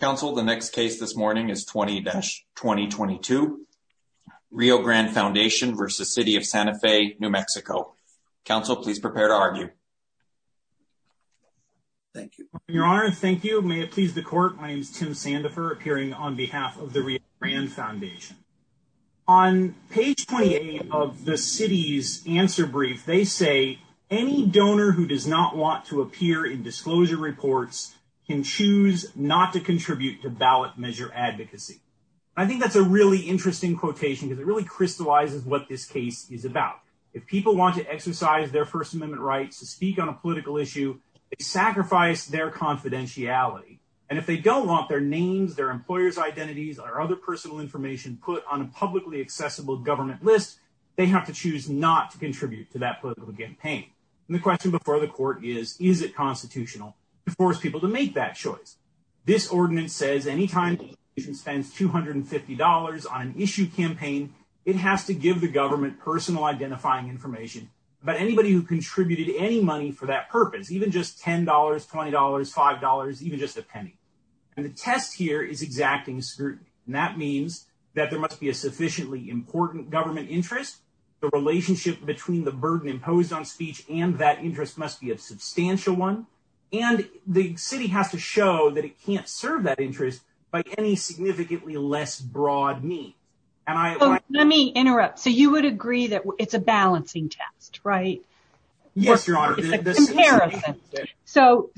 Council, the next case this morning is 20-2022, Rio Grande Foundation v. City of Santa Fe, New Mexico. Council, please prepare to argue. Thank you. Your Honor, thank you. May it please the Court, my name is Tim Sandifer, appearing on behalf of the Rio Grande Foundation. On page 28 of the City's answer brief, they say, Any donor who does not want to appear in disclosure reports can choose not to contribute to ballot measure advocacy. I think that's a really interesting quotation because it really crystallizes what this case is about. If people want to exercise their First Amendment rights to speak on a political issue, they sacrifice their confidentiality. And if they don't want their names, their employer's identities, or other personal information put on a publicly accessible government list, they have to choose not to contribute to that political campaign. And the question before the Court is, is it constitutional to force people to make that choice? This ordinance says any time the organization spends $250 on an issue campaign, it has to give the government personal identifying information about anybody who contributed any money for that purpose, even just $10, $20, $5, even just a penny. And the test here is exacting scrutiny. And that means that there must be a sufficiently important government interest. The relationship between the burden imposed on speech and that interest must be a substantial one. And the City has to show that it can't serve that interest by any significantly less broad means. Let me interrupt. So you would agree that it's a balancing test, right? Yes, Your Honor. It's a comparison. So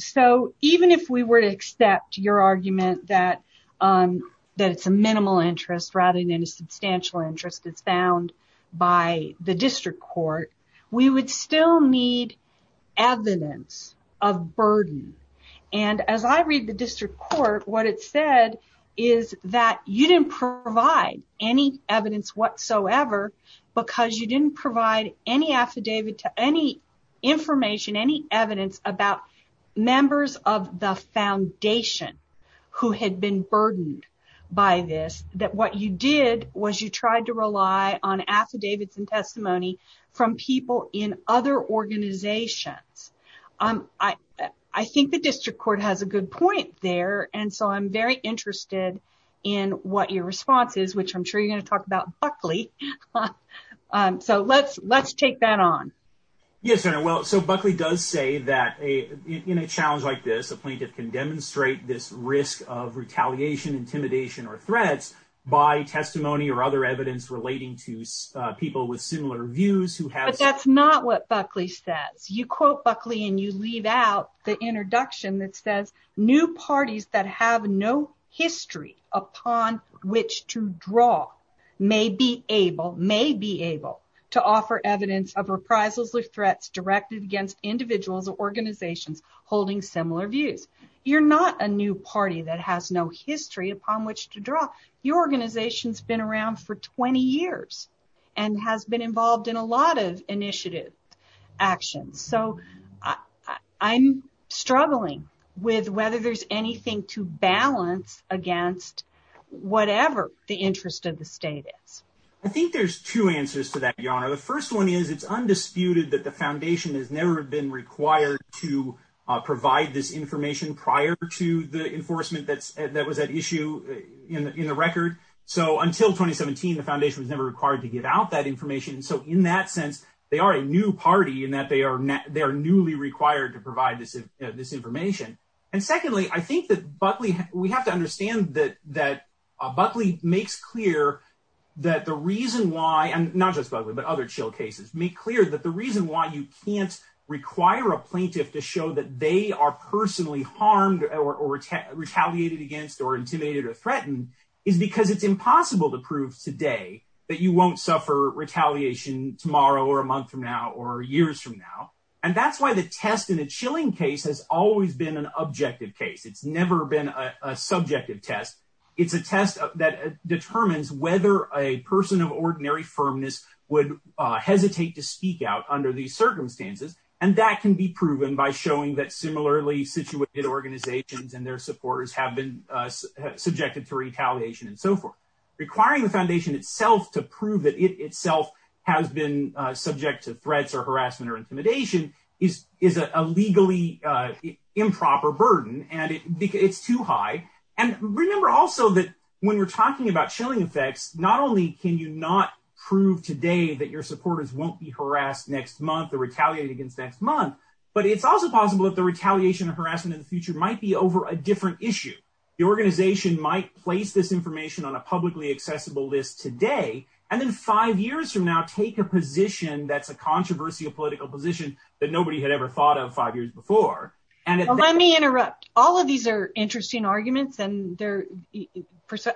even if we were to accept your argument that it's a minimal interest rather than a substantial interest that's found by the District Court, we would still need evidence of burden. And as I read the District Court, what it said is that you didn't provide any evidence whatsoever because you didn't provide any affidavit to any information, any evidence about members of the foundation who had been burdened by this, that what you did was you tried to rely on affidavits and testimony from people in other organizations. I think the District Court has a good point there. And so I'm very interested in what your response is, which I'm sure you're going to talk about Buckley. So let's let's take that on. Yes, Your Honor. Well, so Buckley does say that in a challenge like this, a plaintiff can demonstrate this risk of retaliation, intimidation or threats by testimony or other evidence relating to people with similar views. But that's not what Buckley says. You quote Buckley and you leave out the introduction that says new parties that have no history upon which to draw may be able, may be able to offer evidence of reprisals or threats directed against individuals or organizations holding similar views. You're not a new party that has no history upon which to draw. Your organization's been around for 20 years and has been involved in a lot of initiative actions. So I'm struggling with whether there's anything to balance against whatever the interest of the state is. I think there's two answers to that, Your Honor. The first one is it's undisputed that the foundation has never been required to provide this information prior to the enforcement. That's that was an issue in the record. So until 2017, the foundation was never required to give out that information. And so in that sense, they are a new party in that they are they are newly required to provide this information. And secondly, I think that Buckley, we have to understand that that Buckley makes clear that the reason why. And not just Buckley, but other chill cases make clear that the reason why you can't require a plaintiff to show that they are personally harmed or retaliated against or intimidated or threatened is because it's impossible to prove today that you won't suffer retaliation tomorrow or a month from now or years from now. And that's why the test in a chilling case has always been an objective case. It's never been a subjective test. It's a test that determines whether a person of ordinary firmness would hesitate to speak out under these circumstances. And that can be proven by showing that similarly situated organizations and their supporters have been subjected to retaliation and so forth. Requiring the foundation itself to prove that it itself has been subject to threats or harassment or intimidation is is a legally improper burden. And it's too high. And remember also that when we're talking about chilling effects, not only can you not prove today that your supporters won't be harassed next month or retaliated against next month, but it's also possible that the retaliation of harassment in the future might be over a different issue. The organization might place this information on a publicly accessible list today and then five years from now take a position that's a controversial political position that nobody had ever thought of five years before. And let me interrupt. All of these are interesting arguments and there.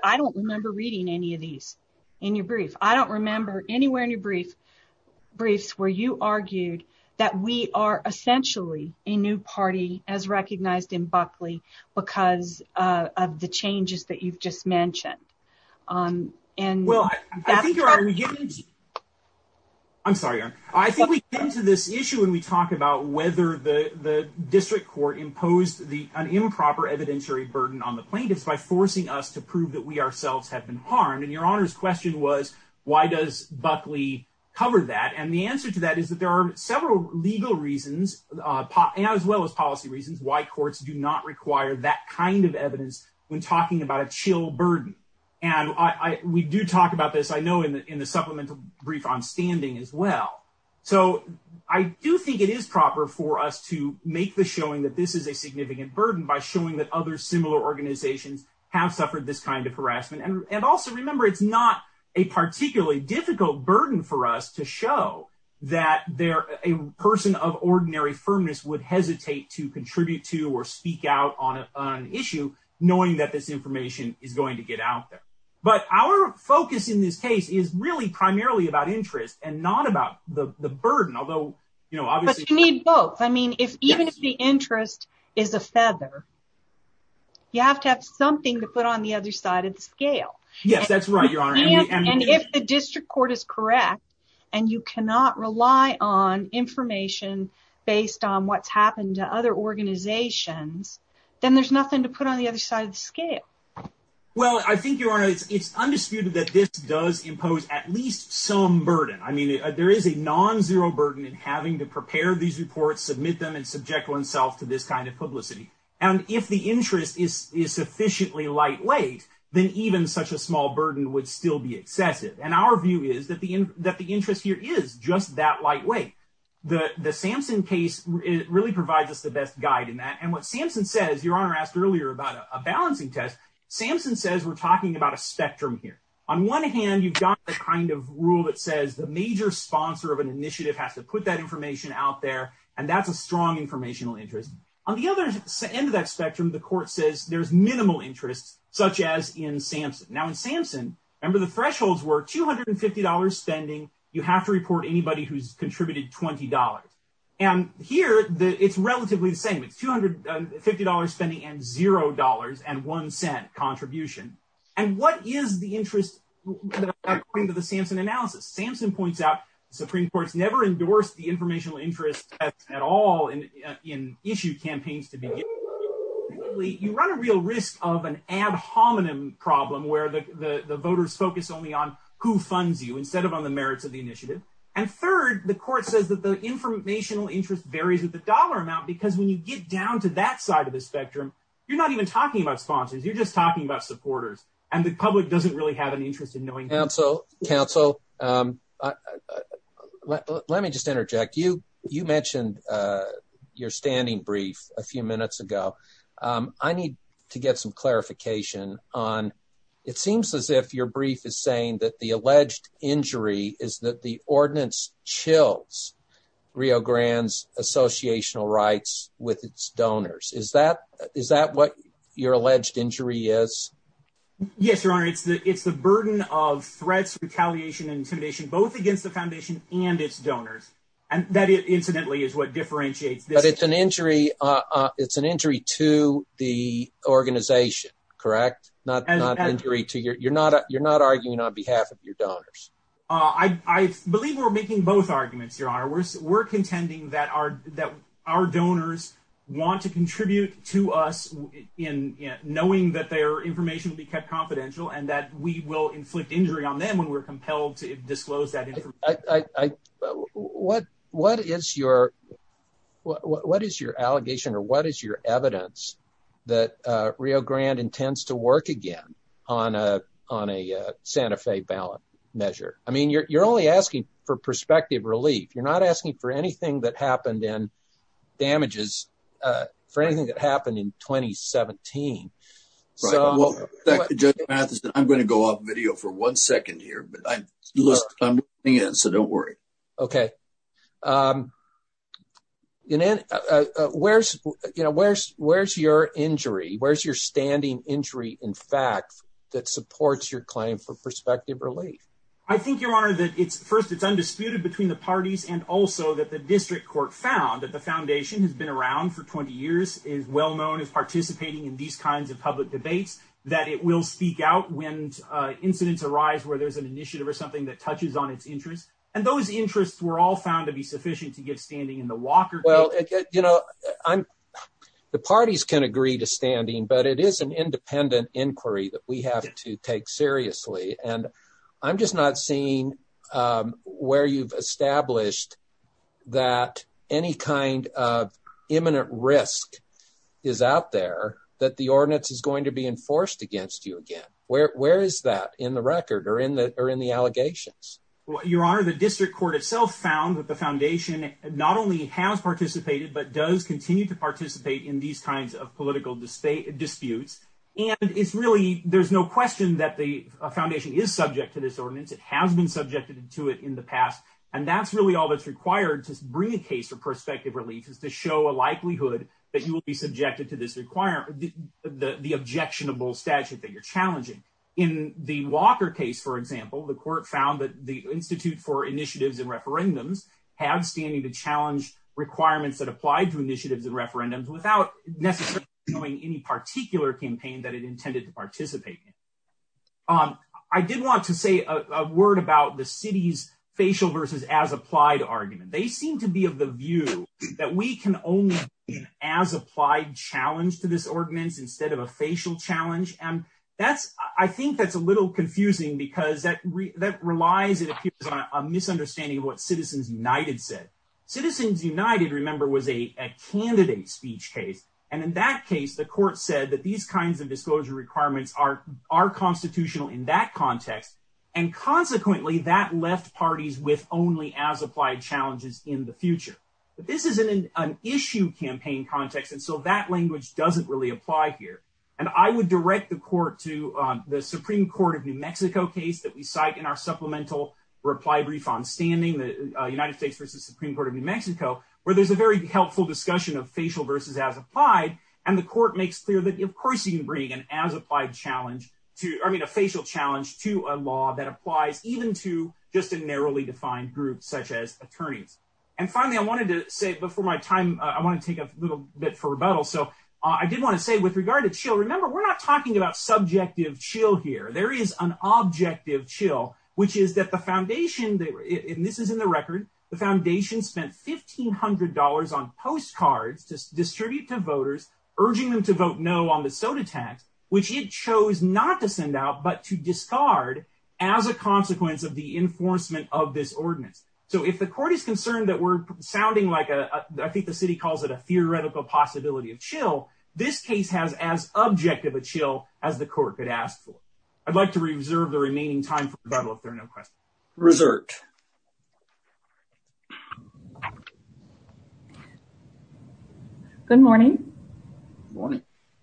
I don't remember reading any of these in your brief. I don't remember anywhere in your brief briefs where you argued that we are essentially a new party as recognized in Buckley because of the changes that you've just mentioned. And well, I think you're right. I'm sorry. I think we get into this issue when we talk about whether the district court imposed the improper evidentiary burden on the plaintiffs by forcing us to prove that we ourselves have been harmed. And your honor's question was, why does Buckley cover that? And the answer to that is that there are several legal reasons as well as policy reasons why courts do not require that kind of evidence when talking about a chill burden. And we do talk about this, I know, in the supplemental brief on standing as well. So I do think it is proper for us to make the showing that this is a significant burden by showing that other similar organizations have suffered this kind of harassment. And also remember, it's not a particularly difficult burden for us to show that they're a person of ordinary firmness would hesitate to contribute to or speak out on an issue, knowing that this information is going to get out there. But our focus in this case is really primarily about interest and not about the burden, although, you know, obviously need both. I mean, if even if the interest is a feather, you have to have something to put on the other side of the scale. Yes, that's right. Your honor. And if the district court is correct and you cannot rely on information based on what's happened to other organizations, then there's nothing to put on the other side of the scale. Well, I think your honor, it's undisputed that this does impose at least some burden. I mean, there is a nonzero burden in having to prepare these reports, submit them and subject oneself to this kind of publicity. And if the interest is is sufficiently lightweight, then even such a small burden would still be excessive. And our view is that the that the interest here is just that lightweight. The Samson case really provides us the best guide in that. And what Samson says, your honor, asked earlier about a balancing test. Samson says we're talking about a spectrum here. On one hand, you've got the kind of rule that says the major sponsor of an initiative has to put that information out there. And that's a strong informational interest. On the other end of that spectrum, the court says there's minimal interest, such as in Samson. Now, in Samson, remember, the thresholds were two hundred and fifty dollars spending. You have to report anybody who's contributed twenty dollars. And here it's relatively the same. It's two hundred and fifty dollars spending and zero dollars and one cent contribution. And what is the interest according to the Samson analysis? Samson points out Supreme Court's never endorsed the informational interest at all in issue campaigns to be. You run a real risk of an ad hominem problem where the voters focus only on who funds you instead of on the merits of the initiative. And third, the court says that the informational interest varies with the dollar amount, because when you get down to that side of the spectrum, you're not even talking about sponsors. You're just talking about supporters and the public doesn't really have an interest in knowing. So, counsel, let me just interject you. You mentioned your standing brief a few minutes ago. I need to get some clarification on. It seems as if your brief is saying that the alleged injury is that the ordinance chills Rio Grande's associational rights with its donors. Is that is that what your alleged injury is? Yes, your honor. It's the it's the burden of threats, retaliation and intimidation both against the foundation and its donors. And that incidentally is what differentiates. But it's an injury. It's an injury to the organization. Correct. Not an injury to your you're not you're not arguing on behalf of your donors. I believe we're making both arguments. Your honor. We're contending that our that our donors want to contribute to us in knowing that their information will be kept confidential and that we will inflict injury on them when we're compelled to disclose that. What what is your what is your allegation or what is your evidence that Rio Grande intends to work again on a on a Santa Fe ballot measure? I mean, you're you're only asking for prospective relief. You're not asking for anything that happened in damages for anything that happened in 2017. So I'm going to go off video for one second here, but I'm listening in. So don't worry. OK. You know, where's you know, where's where's your injury? Where's your standing injury? In fact, that supports your claim for prospective relief. I think your honor that it's first it's undisputed between the parties and also that the district court found that the foundation has been around for 20 years is well known as participating in these kinds of public debates that it will speak out when incidents arise where there's an initiative or something that touches on its interest. And those interests were all found to be sufficient to get standing in the Walker. Well, you know, I'm the parties can agree to standing, but it is an independent inquiry that we have to take seriously. And I'm just not seeing where you've established that any kind of imminent risk is out there that the ordinance is going to be enforced against you again. Where is that in the record or in the or in the allegations? Your honor, the district court itself found that the foundation not only has participated, but does continue to participate in these kinds of political disputes. And it's really there's no question that the foundation is subject to this ordinance. It has been subjected to it in the past. And that's really all that's required to bring a case for prospective relief is to show a likelihood that you will be subjected to this require the objectionable statute that you're challenging in the Walker case. For example, the court found that the Institute for initiatives and referendums have standing to challenge requirements that apply to initiatives and referendums without necessarily knowing any particular campaign that it intended to participate in. I did want to say a word about the city's facial versus as applied argument. They seem to be of the view that we can only as applied challenge to this ordinance instead of a facial challenge. And that's I think that's a little confusing because that that relies on a misunderstanding of what Citizens United said. Citizens United, remember, was a candidate speech case. And in that case, the court said that these kinds of disclosure requirements are are constitutional in that context. And consequently, that left parties with only as applied challenges in the future. But this is an issue campaign context. And so that language doesn't really apply here. And I would direct the court to the Supreme Court of New Mexico case that we cite in our supplemental reply brief on standing the United States versus Supreme Court of New Mexico, where there's a very helpful discussion of facial versus as applied. And the court makes clear that, of course, you can bring an as applied challenge to, I mean, a facial challenge to a law that applies even to just a narrowly defined group such as attorneys. And finally, I wanted to say before my time, I want to take a little bit for rebuttal. So I did want to say with regard to chill. Remember, we're not talking about subjective chill here. There is an objective chill, which is that the foundation, and this is in the record, the foundation spent $1,500 on postcards to distribute to voters, urging them to vote no on the soda tax, which it chose not to send out but to discard as a consequence of the enforcement of this ordinance. So if the court is concerned that we're sounding like a, I think the city calls it a theoretical possibility of chill, this case has as objective a chill as the court could ask for. I'd like to reserve the remaining time for rebuttal if there are no questions. Reserved. Next. Good morning.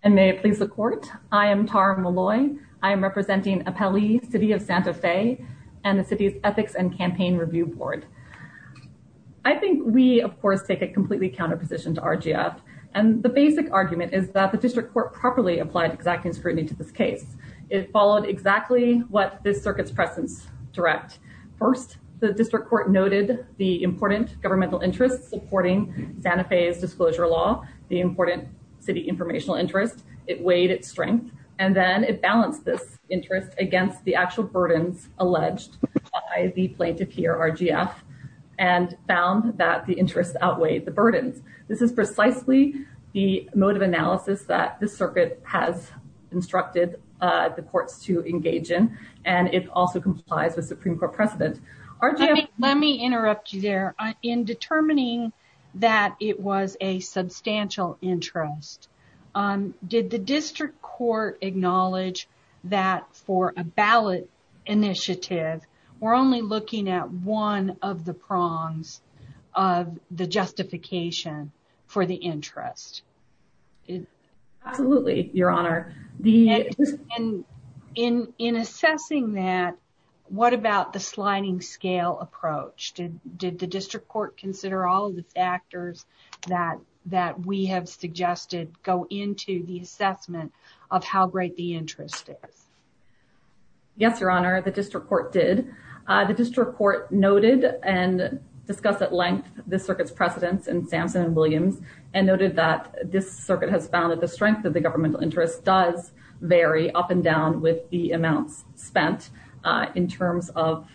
And may it please the court. I am Tara Malloy, I am representing a Pelly city of Santa Fe, and the city's ethics and campaign review board. I think we, of course, take a completely counter position to RGF. And the basic argument is that the district court properly applied exacting scrutiny to this case. It followed exactly what this circuit's presence direct. First, the district court noted the important governmental interest supporting Santa Fe's disclosure law, the important city informational interest, it weighed its strength, and then it balanced this interest against the actual burdens alleged by the plaintiff here, RGF, and found that the interest outweighed the burdens. This is precisely the mode of analysis that the circuit has instructed the courts to engage in. And it also complies with Supreme Court precedent. Let me interrupt you there. In determining that it was a substantial interest, did the district court acknowledge that for a ballot initiative, we're only looking at one of the prongs of the justification for the interest? Absolutely, Your Honor. And in assessing that, what about the sliding scale approach? Did the district court consider all of the factors that we have suggested go into the assessment of how great the interest is? Yes, Your Honor, the district court did. The district court noted and discussed at length the circuit's precedence in Sampson and Williams, and noted that this circuit has found that the strength of the governmental interest does vary up and down with the amounts spent in terms of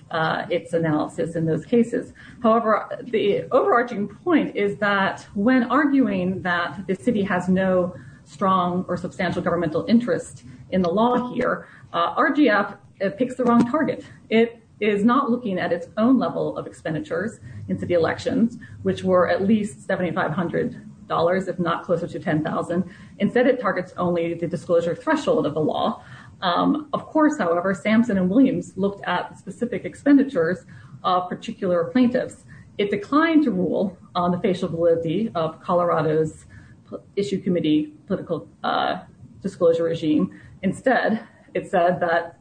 its analysis in those cases. However, the overarching point is that when arguing that the city has no strong or substantial governmental interest in the law here, RGF picks the wrong target. It is not looking at its own level of expenditures in city elections, which were at least $7,500, if not closer to $10,000. Instead, it targets only the disclosure threshold of the law. Of course, however, Sampson and Williams looked at specific expenditures of particular plaintiffs. It declined to rule on the facial validity of Colorado's issue committee political disclosure regime. Instead, it said that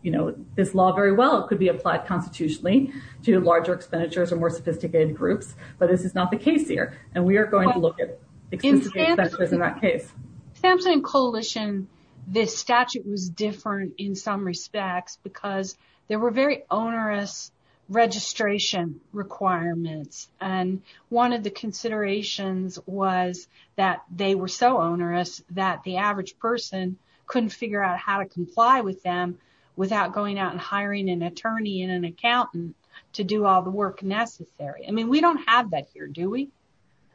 this law very well could be applied constitutionally to larger expenditures or more sophisticated groups, but this is not the case here, and we are going to look at specific expenditures in that case. Sampson and Coalition, this statute was different in some respects because there were very onerous registration requirements, and one of the considerations was that they were so onerous that the average person couldn't figure out how to comply with them without going out and hiring an attorney and an accountant to do all the work necessary. I mean, we don't have that here, do we?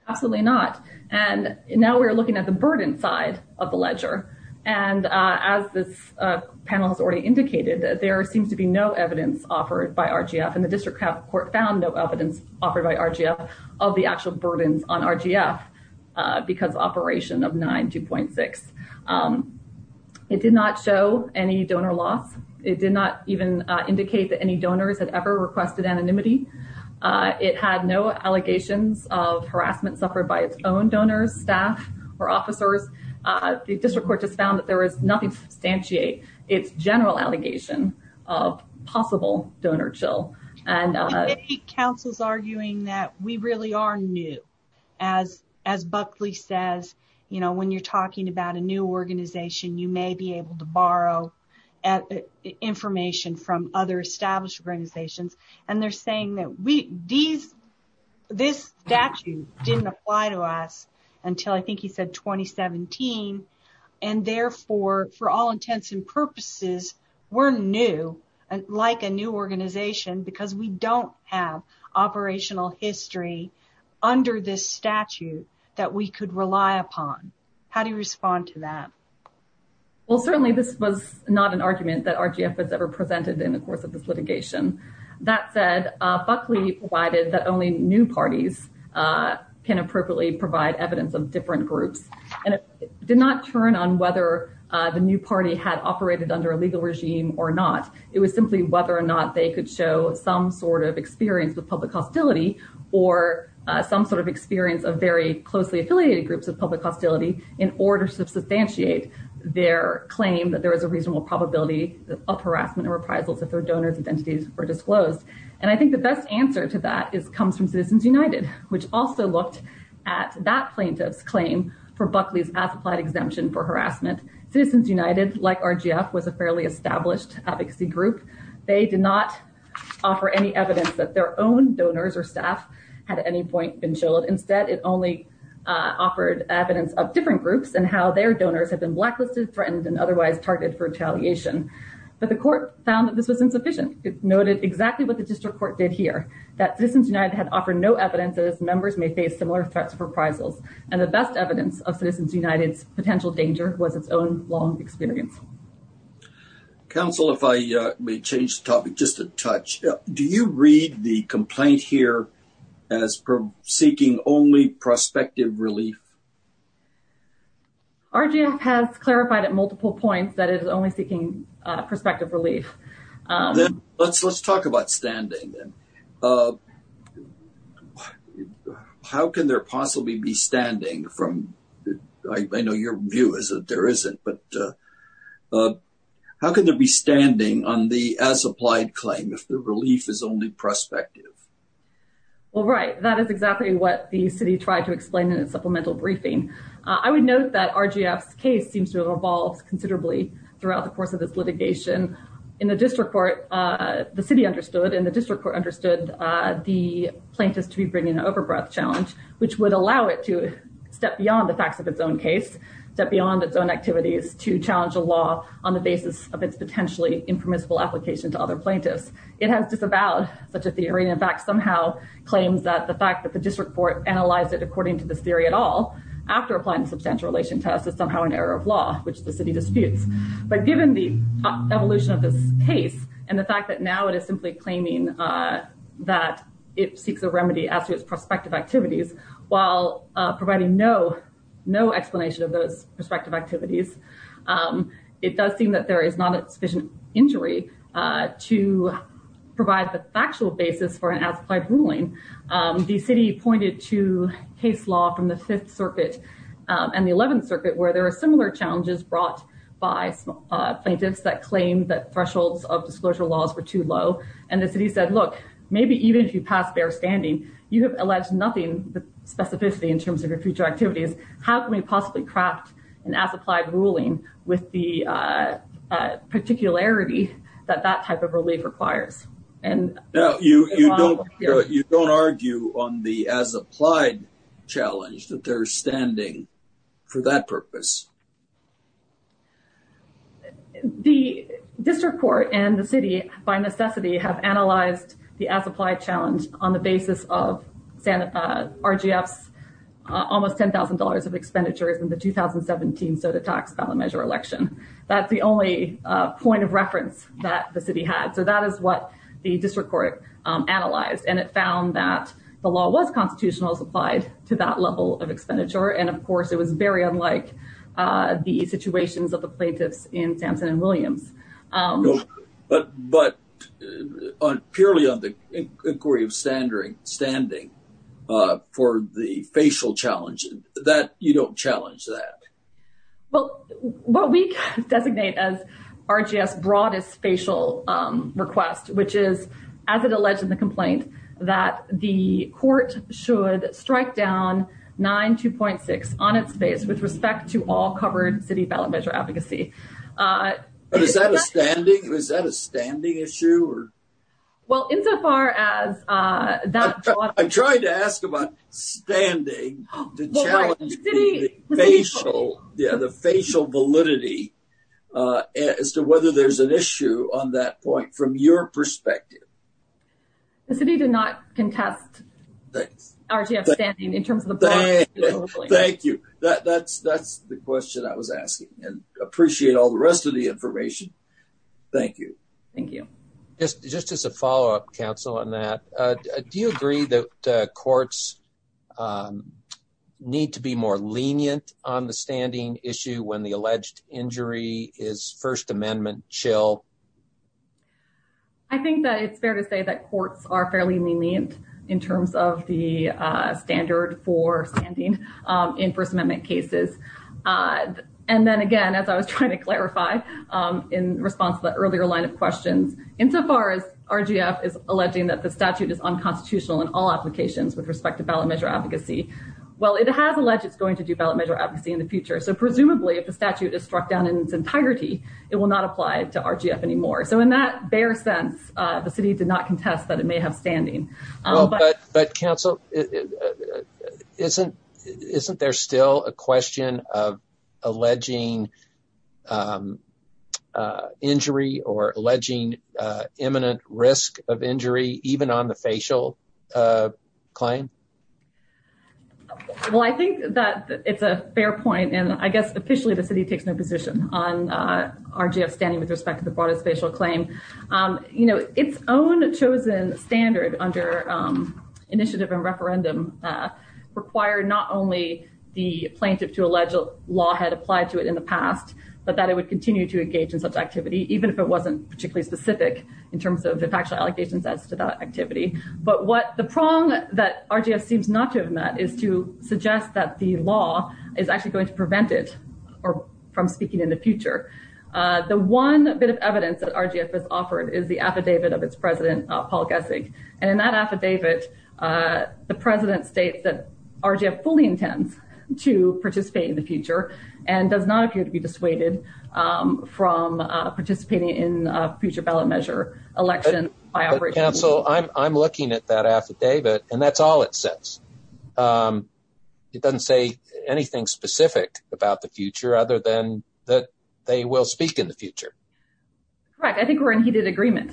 Absolutely not, and now we are looking at the burden side of the ledger, and as this panel has already indicated, there seems to be no evidence offered by RGF, and the district court found no evidence offered by RGF of the actual burdens on RGF because operation of 92.6. It did not show any donor loss. It did not even indicate that any donors had ever requested anonymity. It had no allegations of harassment suffered by its own donors, staff, or officers. The district court just found that there was nothing to substantiate its general allegation of possible donor chill. Council is arguing that we really are new. As Buckley says, you know, when you're talking about a new organization, you may be able to borrow information from other established organizations, and they're saying that this statute didn't apply to us until I think he said 2017, and therefore, for all intents and purposes, we're new, like a new organization. So, we're not new because we don't have operational history under this statute that we could rely upon. How do you respond to that? Well, certainly, this was not an argument that RGF has ever presented in the course of this litigation. That said, Buckley provided that only new parties can appropriately provide evidence of different groups, and it did not turn on whether the new party had operated under a legal regime or not. It was simply whether or not they could show some sort of experience with public hostility or some sort of experience of very closely affiliated groups of public hostility in order to substantiate their claim that there is a reasonable probability of harassment and reprisals if their donors' identities were disclosed. And I think the best answer to that comes from Citizens United, which also looked at that plaintiff's claim for Buckley's as-applied exemption for harassment. Citizens United, like RGF, was a fairly established advocacy group. They did not offer any evidence that their own donors or staff had at any point been showed. Instead, it only offered evidence of different groups and how their donors had been blacklisted, threatened, and otherwise targeted for retaliation. But the court found that this was insufficient. It noted exactly what the district court did here, that Citizens United had offered no evidence that its members may face similar threats of reprisals. And the best evidence of Citizens United's potential danger was its own long experience. Counsel, if I may change the topic just a touch. Do you read the complaint here as seeking only prospective relief? RGF has clarified at multiple points that it is only seeking prospective relief. Let's talk about standing. How can there possibly be standing? I know your view is that there isn't, but how can there be standing on the as-applied claim if the relief is only prospective? Well, right. That is exactly what the city tried to explain in its supplemental briefing. I would note that RGF's case seems to have evolved considerably throughout the course of this litigation. In the district court, the city understood, and the district court understood the plaintiffs to be bringing an overbreath challenge, which would allow it to step beyond the facts of its own case, step beyond its own activities to challenge a law on the basis of its potentially impermissible application to other plaintiffs. It has disavowed such a theory, and in fact somehow claims that the fact that the district court analyzed it according to this theory at all after applying substantial relation tests is somehow an error of law, which the city disputes. But given the evolution of this case and the fact that now it is simply claiming that it seeks a remedy as to its prospective activities, while providing no explanation of those prospective activities, it does seem that there is not sufficient injury to provide the factual basis for an as-applied ruling. The city pointed to case law from the Fifth Circuit and the Eleventh Circuit, where there are similar challenges brought by plaintiffs that claim that thresholds of disclosure laws were too low, and the city said, look, maybe even if you pass bare standing, you have alleged nothing specificity in terms of your future activities. How can we possibly craft an as-applied ruling with the particularity that that type of relief requires? You don't argue on the as-applied challenge that they're standing for that purpose? The district court and the city, by necessity, have analyzed the as-applied challenge on the basis of RGF's almost $10,000 of expenditures in the 2017 SOTA tax ballot measure election. That's the only point of reference that the city had. So that is what the district court analyzed. And it found that the law was constitutional as applied to that level of expenditure. And, of course, it was very unlike the situations of the plaintiffs in Sampson and Williams. But purely on the inquiry of standing for the facial challenge, you don't challenge that? Well, what we designate as RGF's broadest facial request, which is, as it alleged in the complaint, that the court should strike down 9-2.6 on its face with respect to all covered city ballot measure advocacy. Is that a standing issue? Well, insofar as that… I'm trying to ask about standing to challenge the facial validity as to whether there's an issue on that point from your perspective. The city did not contest RGF's standing in terms of the broad… Thank you. That's the question I was asking. And I appreciate all the rest of the information. Thank you. Just as a follow-up, counsel, on that. Do you agree that courts need to be more lenient on the standing issue when the alleged injury is First Amendment chill? I think that it's fair to say that courts are fairly lenient in terms of the standard for standing in First Amendment cases. And then again, as I was trying to clarify in response to the earlier line of questions, insofar as RGF is alleging that the statute is unconstitutional in all applications with respect to ballot measure advocacy. Well, it has alleged it's going to do ballot measure advocacy in the future. So presumably, if the statute is struck down in its integrity, it will not apply to RGF anymore. So in that bare sense, the city did not contest that it may have standing. But counsel, isn't there still a question of alleging injury or alleging imminent risk of injury, even on the facial claim? Well, I think that it's a fair point. And I guess officially, the city takes no position on RGF standing with respect to the broadest facial claim. Its own chosen standard under initiative and referendum required not only the plaintiff to allege a law had applied to it in the past, but that it would continue to engage in such activity, even if it wasn't particularly specific in terms of the factual allegations as to that activity. But what the prong that RGF seems not to have met is to suggest that the law is actually going to prevent it from speaking in the future. The one bit of evidence that RGF has offered is the affidavit of its president, Paul Gessig. And in that affidavit, the president states that RGF fully intends to participate in the future and does not appear to be dissuaded from participating in a future ballot measure election. Council, I'm looking at that affidavit and that's all it says. It doesn't say anything specific about the future other than that they will speak in the future. Correct, I think we're in heated agreement.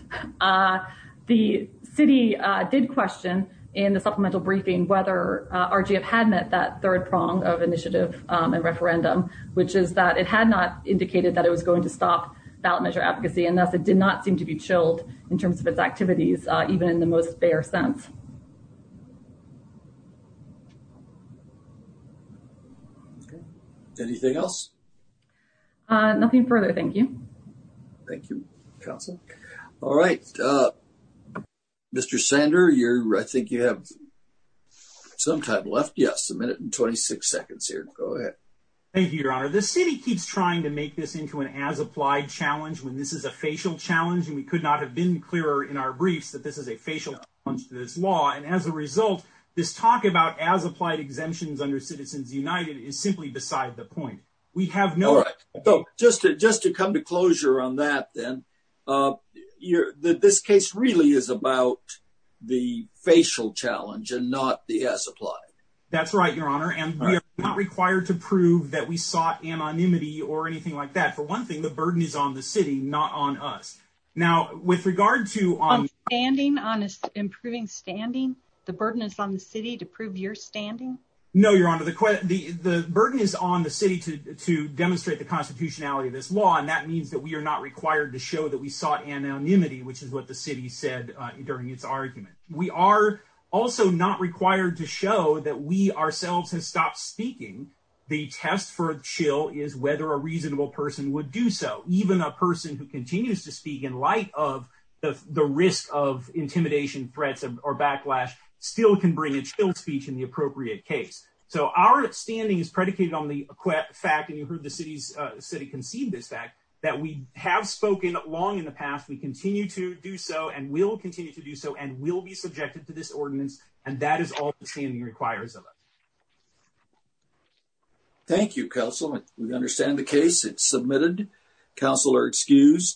The city did question in the supplemental briefing whether RGF had met that third prong of initiative and referendum, which is that it had not indicated that it was going to stop ballot measure advocacy and thus it did not seem to be chilled in terms of its activities, even in the most bare sense. Anything else? Nothing further, thank you. Thank you, Council. All right, Mr. Sander, I think you have some time left. Yes, a minute and 26 seconds here. Go ahead. Thank you, Your Honor. The city keeps trying to make this into an as-applied challenge when this is a facial challenge, and we could not have been clearer in our briefs that this is a facial challenge to this law. And as a result, this talk about as-applied exemptions under Citizens United is simply beside the point. All right, so just to come to closure on that then, this case really is about the facial challenge and not the as-applied. That's right, Your Honor, and we are not required to prove that we sought anonymity or anything like that. For one thing, the burden is on the city, not on us. On standing, on improving standing, the burden is on the city to prove your standing? No, Your Honor, the burden is on the city to demonstrate the constitutionality of this law, and that means that we are not required to show that we sought anonymity, which is what the city said during its argument. We are also not required to show that we ourselves have stopped speaking. The test for chill is whether a reasonable person would do so. Even a person who continues to speak in light of the risk of intimidation, threats, or backlash still can bring a chill speech in the appropriate case. So our standing is predicated on the fact, and you heard the city concede this fact, that we have spoken long in the past, we continue to do so, and will continue to do so, and will be subjected to this ordinance, and that is all the standing requires of us. Thank you, Counselman. We understand the case. It's submitted. Counsel are excused.